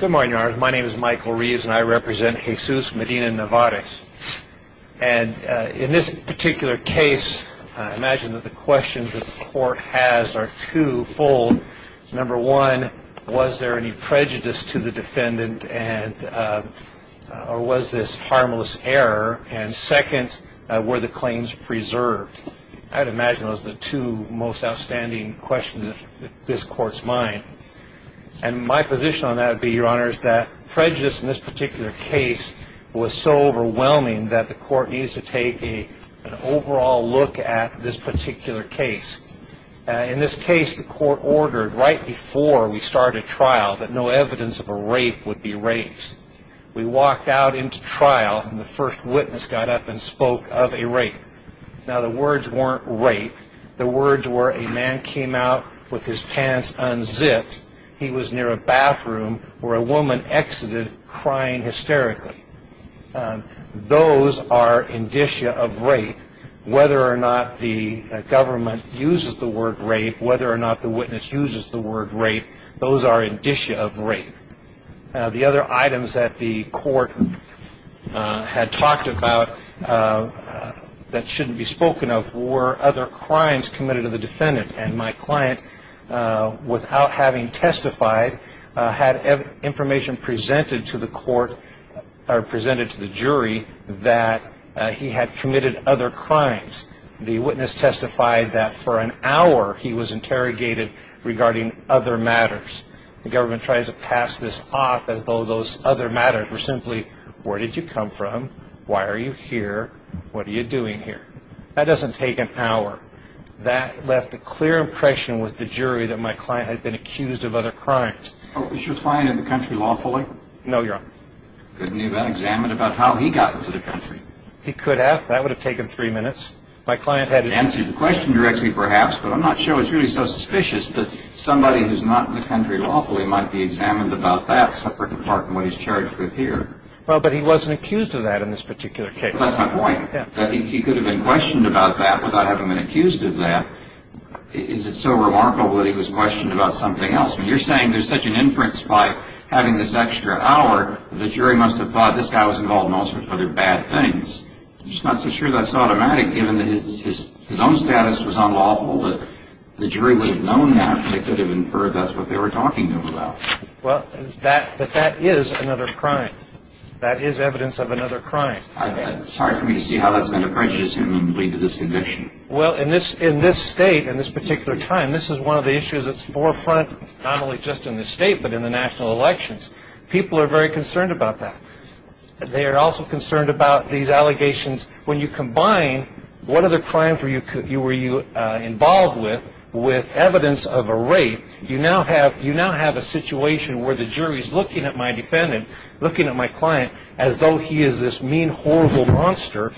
Good morning, your honors. My name is Michael Reeves and I represent Jesus Medina-Nevarez. And in this particular case, I imagine that the questions that the court has are two-fold. Number one, was there any prejudice to the defendant and or was this harmless error? And second, were the claims preserved? I'd imagine those the two most outstanding questions of this court's mind. And my position on that would be, your honors, that prejudice in this particular case was so overwhelming that the court needs to take an overall look at this particular case. In this case, the court ordered right before we started trial that no evidence of a rape would be raised. We walked out into trial and the first witness got up and spoke of a rape. Now, the words weren't rape. The words were, a man came out with his pants unzipped. He was near a bathroom where a woman exited crying hysterically. Those are indicia of rape. Whether or not the government uses the word rape, whether or not the witness uses the word rape, those are indicia of rape. Now, the other items that the court had talked about that shouldn't be spoken of were other crimes committed of the defendant. And my client, without having testified, had information presented to the court or presented to the jury that he had committed other crimes. The witness testified that for an hour he was interrogated regarding other matters. The government tries to pass this off as though those other matters were simply, where did you come from? Why are you here? What are you doing here? That doesn't take an hour. That left a clear impression with the jury that my client had been accused of other crimes. Was your client in the country lawfully? No, Your Honor. Couldn't he have been examined about how he got into the country? He could have. That would have taken three minutes. My client had... Answered the question directly, perhaps, but I'm not sure. It's really so suspicious that somebody who's not in the country lawfully might be examined about that separate from what he's charged with here. Well, but he wasn't accused of that in this particular case. That's my point. He could have been questioned about that without having been accused of that. Is it so remarkable that he was questioned about something else? You're saying there's such an inference by having this extra hour that the jury must have thought this guy was involved in all sorts of other bad things. I'm just not so sure that's automatic, given that his own status was unlawful, that the jury would have known that. They could have inferred that's what they were talking to him about. Well, but that is another crime. That is evidence of another crime. I'm sorry for me to see how that's been a prejudice to lead to this conviction. Well, in this state, in this particular time, this is one of the issues that's forefront, not only just in the state, but in the national elections. People are very concerned about that. They are also concerned about these allegations. When you combine what other crime were you involved with, with evidence of a situation where the jury's looking at my defendant, looking at my client, as though he is this mean, horrible monster,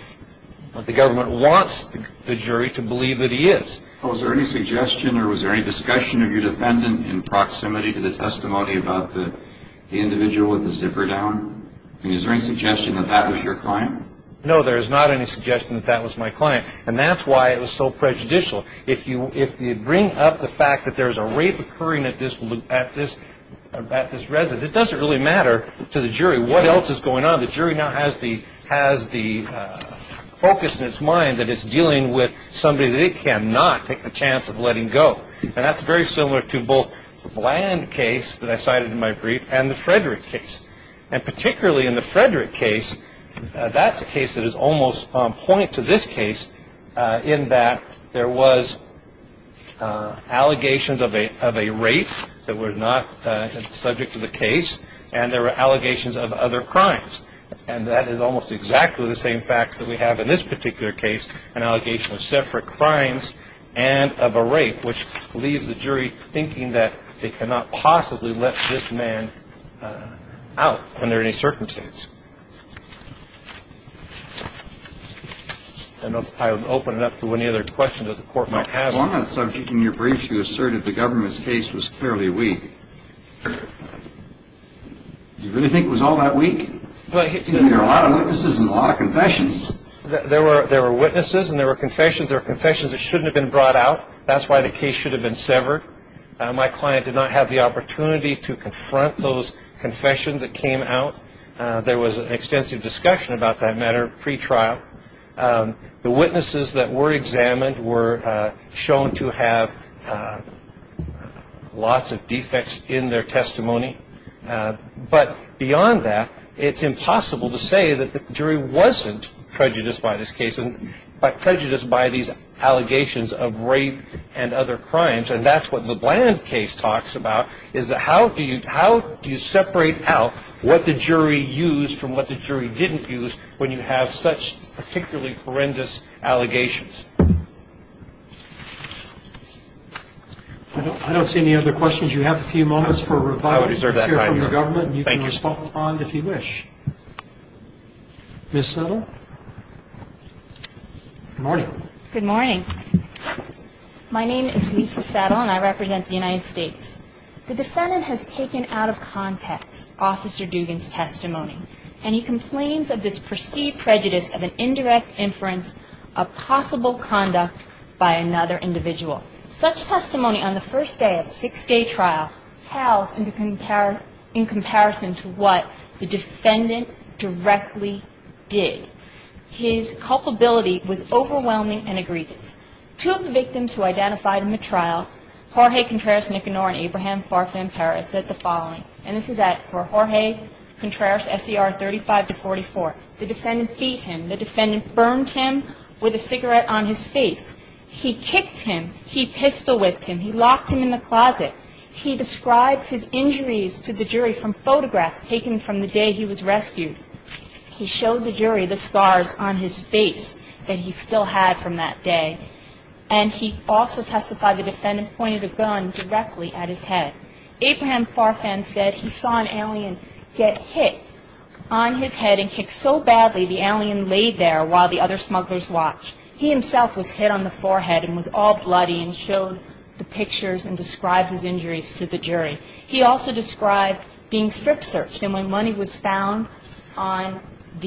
the government wants the jury to believe that he is. Was there any suggestion or was there any discussion of your defendant in proximity to the testimony about the individual with the zipper down? Is there any suggestion that that was your client? No, there's not any suggestion that that was my client. And that's why it was so prejudicial. If you bring up the fact that there's a rape occurring at this residence, it doesn't really matter to the jury what else is going on. The jury now has the focus in its mind that it's dealing with somebody that it cannot take the chance of letting go. And that's very similar to both the Bland case that I cited in my brief and the Frederick case. And particularly in the Frederick case, that's a case that is almost on point to this case in that there was allegations of a rape that were not subject to the case, and there were allegations of other crimes. And that is almost exactly the same facts that we have in this particular case, an allegation of separate crimes and of a rape, which leaves the jury thinking that they cannot possibly let this man out under any circumstances. I don't know if I opened it up to any other questions that the court might have. On that subject, in your brief, you asserted the government's case was clearly weak. Do you really think it was all that weak? Well, it's... I mean, there are a lot of witnesses and a lot of confessions. There were witnesses and there were confessions. There were confessions that shouldn't have been brought out. That's why the case should have been severed. My client did not have the opportunity to confront those confessions that came out. There was an extensive discussion about that matter pre-trial. The witnesses that were examined were shown to have lots of defects in their testimony. But beyond that, it's impossible to say that the jury wasn't prejudiced by this case, but prejudiced by these allegations of rape and other cases that you have. And so, I think it's important to think about what the jury used from what the jury didn't use when you have such particularly horrendous allegations. I don't see any other questions. You have a few moments for review. I would reserve that time. You can hear from the government. Thank you. And you can respond if you wish. Ms. Settle? Good morning. Good morning. My name is Lisa Settle and I represent the United States. The defendant has taken out of context Officer Dugan's testimony and he complains of this perceived prejudice of an indirect inference of possible conduct by another individual. Such testimony on the first day of a six-day trial tells in comparison to what the defendant directly did. His culpability was overwhelming and egregious. Two of the victims who identified in the trial, Jorge Contreras Nicanor and Abraham Farfan Perez, said the following. And this is for Jorge Contreras, S.E.R. 35-44. The defendant beat him. The defendant burned him with a cigarette on his face. He kicked him. He pistol whipped him. He locked him in the closet. He describes his injuries to the jury from photographs taken from the day he was rescued. He showed the jury the scars on his face that he still had from that day. And he also testified the defendant pointed a gun directly at his head. Abraham Farfan said he saw an alien get hit on his head and kicked so badly, the alien laid there while the other smugglers watched. He himself was hit on the forehead and was all bloody and showed the pictures and described his injuries to the jury. He also described being strip searched. And when money was found on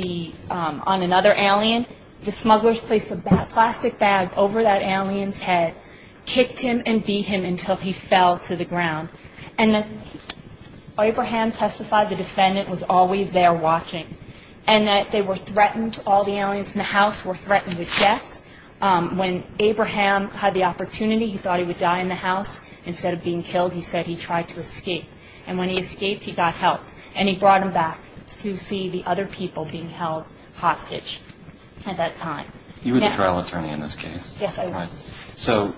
another alien, the smugglers placed a plastic bag over that alien's head, kicked him and beat him until he fell to the ground. And Abraham testified the defendant was always there watching. And that they were threatened, all the aliens in the house were threatened with death. When Abraham had the opportunity, he thought he would die in the house. Instead of being killed, he said he tried to escape. And when he escaped, he got help. And he brought him back to see the other people being held hostage at that time. You were the trial attorney in this case. Yes, I was. So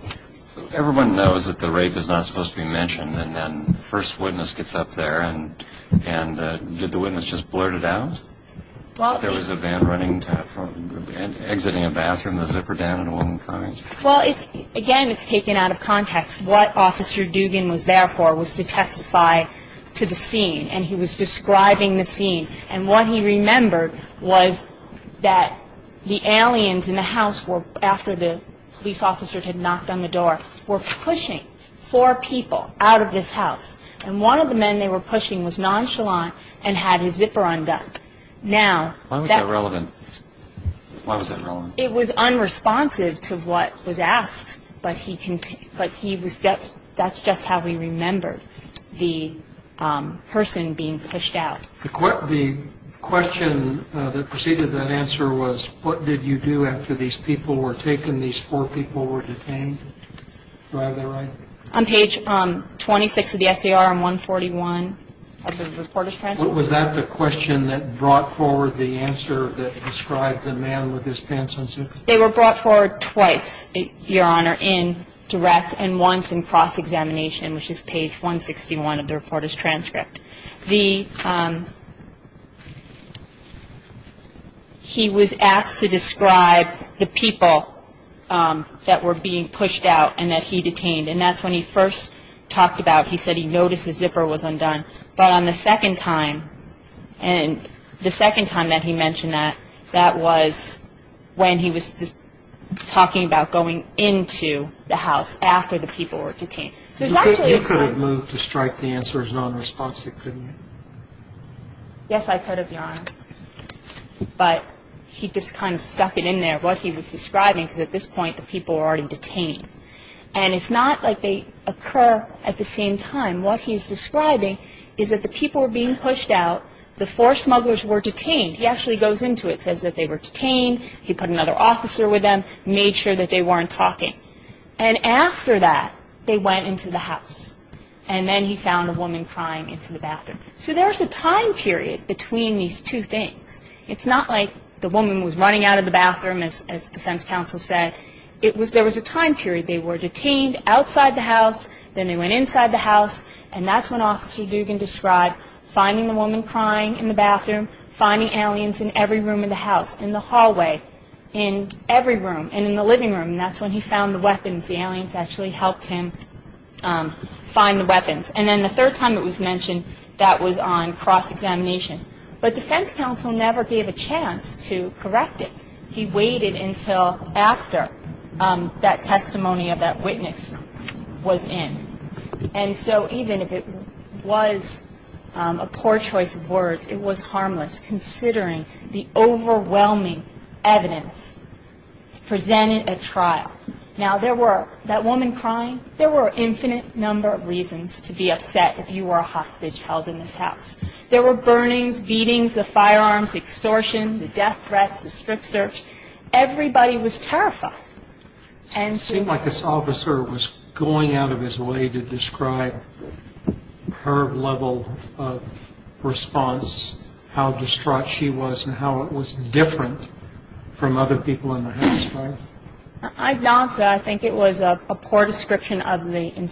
everyone knows that the rape is not supposed to be mentioned and then the first witness gets up there and did the witness just blurt it out? There was a van running, exiting a bathroom, the zipper down and a woman crying? Well, again, it's taken out of the scene. And what he remembered was that the aliens in the house, after the police officer had knocked on the door, were pushing four people out of this house. And one of the men they were pushing was nonchalant and had his zipper undone. Why was that relevant? It was unresponsive to what was asked. But that's just how he remembered the person being pushed out. The question that preceded that answer was, what did you do after these people were taken, these four people were detained? Do I have that right? On page 26 of the S.A.R. and 141 of the reporter's transcript. Was that the question that brought forward the answer that described the man with his pants unzipped? They were in direct and once in cross-examination, which is page 161 of the reporter's transcript. He was asked to describe the people that were being pushed out and that he detained. And that's when he first talked about, he said he noticed the zipper was undone. But on the second time, the second time that he mentioned that, that was when he was just talking about going into the house after the people were detained. You couldn't move to strike the answer as nonresponsive, could you? Yes, I could have, Your Honor. But he just kind of stuck it in there, what he was describing, because at this point, the people were already detained. And it's not like they occur at the same time. What he's describing is that the people were being pushed out. The four smugglers were detained. He actually goes into it, says that they were detained. He put another officer with them, made sure that they weren't talking. And after that, they went into the house. And then he found a woman crying into the bathroom. So there's a time period between these two things. It's not like the woman was running out of the bathroom, as defense counsel said. It was, there was a time period. They were detained outside the house. Then they went inside the house. And that's when Officer Dugan described finding the woman crying in the bathroom, finding aliens in every room in the house, in the hallway, in every room, and in the living room. And that's when he found the weapons. The aliens actually helped him find the weapons. And then the third time it was mentioned, that was on cross-examination. But defense counsel never gave a chance to correct it. He waited until after that testimony of that witness was in. And so even if it was a poor choice of words, it was harmless, considering the overwhelming evidence presented at trial. Now, there were, that woman crying, there were an infinite number of reasons to be upset if you were a hostage held in this house. There were burnings, beatings, the firearms, extortion, the death threats, the strict search. Everybody was terrified. And so... It's going out of its way to describe her level of response, how distraught she was, and how it was different from other people in the house, right? I'd nod to that. I think it was a poor description of the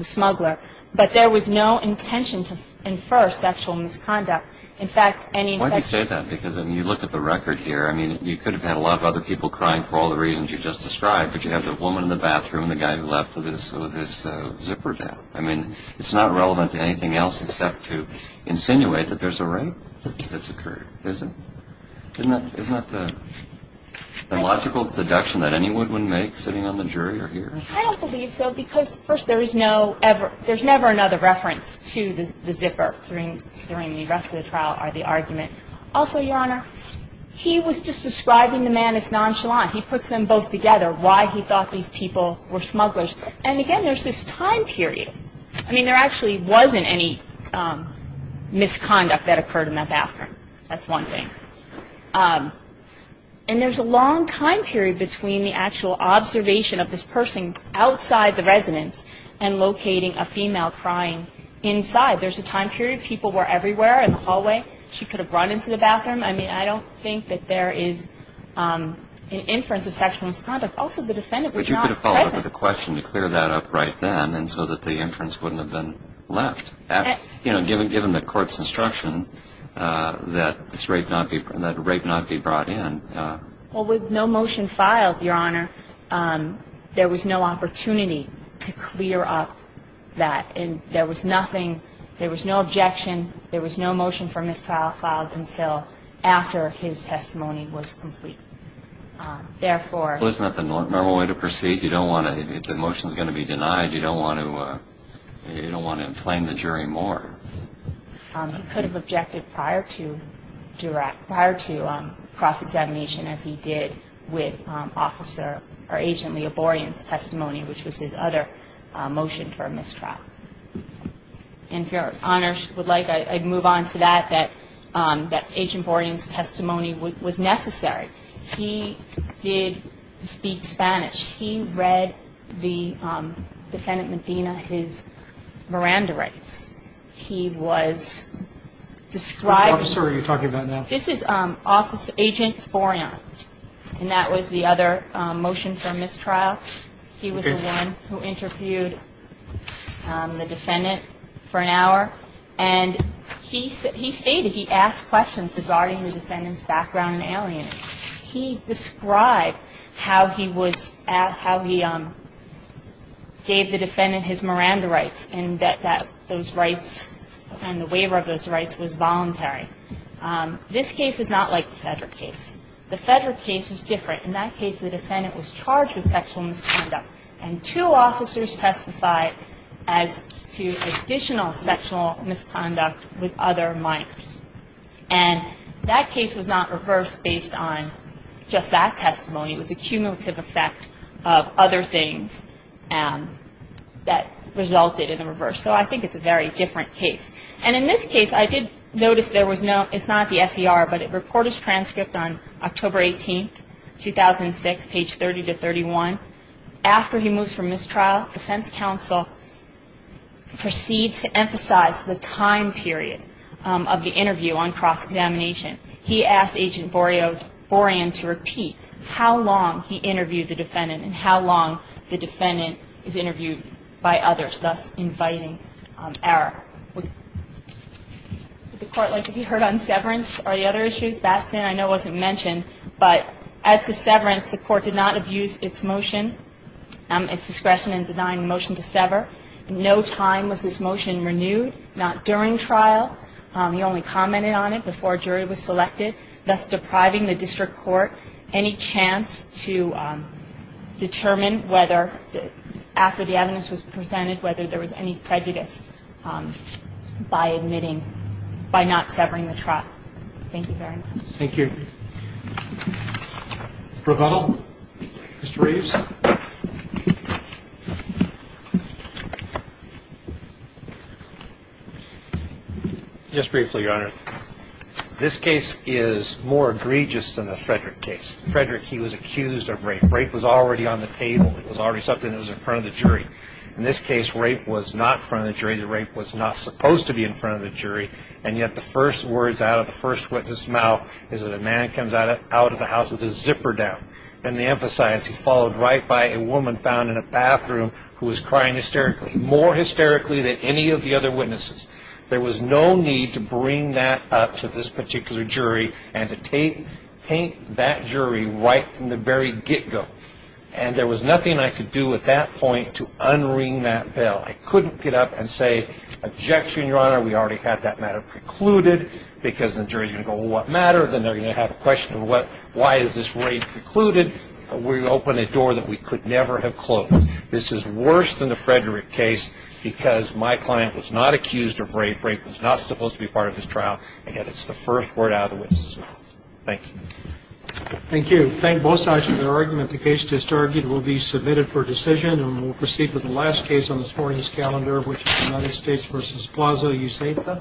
smuggler. But there was no intention to infer sexual misconduct. In fact, any... Why do you say that? Because, I mean, you look at the record here. I mean, you could have had a lot of other people crying for all the reasons you just described. But you have the woman in the bathroom, the guy who was out in the street, and all this stuff, and you're trying to get everybody upset with this zipper down. I mean, it's not relevant to anything else except to insinuate that there's a rape that's occurred, isn't it? Isn't that the logical deduction that any woodwind makes sitting on the jury or here? I don't believe so because, first, there is no ever, there's never another reference to the zipper, during the rest of the trial, or the argument. Also, Your Honor, he was just describing the man as nonchalant. He puts them both together, why he thought these people were smugglers. And, again, there's this time period. I mean, there actually wasn't any misconduct that occurred in that bathroom. That's one thing. And there's a long time period between the actual observation of this person outside the residence and locating a female crying inside. There's a time period. People were everywhere in the hallway. She could have run into the bathroom. I mean, I don't think that there is an inference of sexual misconduct. Also, the defendant was not present. But you could have followed up with a question to clear that up right then and so that the inference wouldn't have been left. You know, given the court's instruction that this rape not be, that rape not be brought in. Well, with no motion filed, Your Honor, there was no opportunity to clear up that. And there was nothing, there was no objection, there was no motion for mistrial filed until after his testimony was complete. Therefore... Well, isn't that the normal way to proceed? You don't want to, if the motion is going to be denied, you don't want to inflame the jury more. He could have objected prior to cross-examination, as he did with Agent Leoborion's testimony, which was his other motion for mistrial. And if Your Honor would like, I'd move on to that, that Agent Leoborion's testimony was necessary. He did speak Spanish. He read the defendant Medina, his Miranda rights. He was describing... Which officer are you talking about now? This is Agent Leoborion. And that was the other motion for mistrial. He was the one who interviewed the defendant for an hour. And he stated, he asked questions regarding the defendant's background and alienation. He described how he was, how he gave the defendant his Miranda rights, and that those rights and the waiver of those rights was voluntary. This case is not like the Federer case. The Federer case was different. In that case, the defendant was charged with sexual misconduct and two officers testified as to additional sexual misconduct with other minors. And that case was not reversed based on just that testimony. It was a cumulative effect of other things that resulted in a reverse. So I think it's a very different case. And in this case, I did notice there was no, it's not the 18th, 2006, page 30 to 31. After he moves from mistrial, the defense counsel proceeds to emphasize the time period of the interview on cross examination. He asked Agent Leoborion to repeat how long he interviewed the defendant and how long the defendant is interviewed by others, thus inviting error. Would the court like to be heard on severance or the other issues? That, I know, wasn't mentioned. But as to severance, the court did not abuse its motion, its discretion in denying the motion to sever. In no time was this motion renewed, not during trial. He only commented on it before a jury was selected, thus depriving the district court any chance to determine whether, after the evidence was presented, whether there was any prejudice by admitting, by not severing the trial. Thank you very much. Thank you. Provost? Mr. Reeves? Just briefly, Your Honor. This case is more egregious than the Frederick case. Frederick, he was accused of rape. Rape was already on the table. It was already something that was in front of the jury. In this case, rape was not in front of the jury. The rape was not supposed to be in front of the jury. And yet, the first words out of the first witness' mouth is that a man comes out of the house with his zipper down. And they emphasize he's followed right by a woman found in a bathroom who was crying hysterically, more hysterically than any of the other witnesses. There was no need to bring that up to this particular jury and to taint that jury right from the very get-go. And there was nothing I could do at that point to unring that bell. I couldn't get up and say, objection, Your Honor. We already had that matter precluded. Because the jury's going to go, well, what matter? Then they're going to have a question of what, why is this rape precluded? We opened a door that we could never have closed. This is worse than the Frederick case because my client was not accused of rape. Rape was not supposed to be part of this trial. And yet, it's the first word out of the witness' mouth. Thank you. Thank you. Thank both sides of the argument. The case just argued will be submitted for decision. And we'll proceed with the last case on this morning's calendar, which is the United States v. Plaza, you say it then?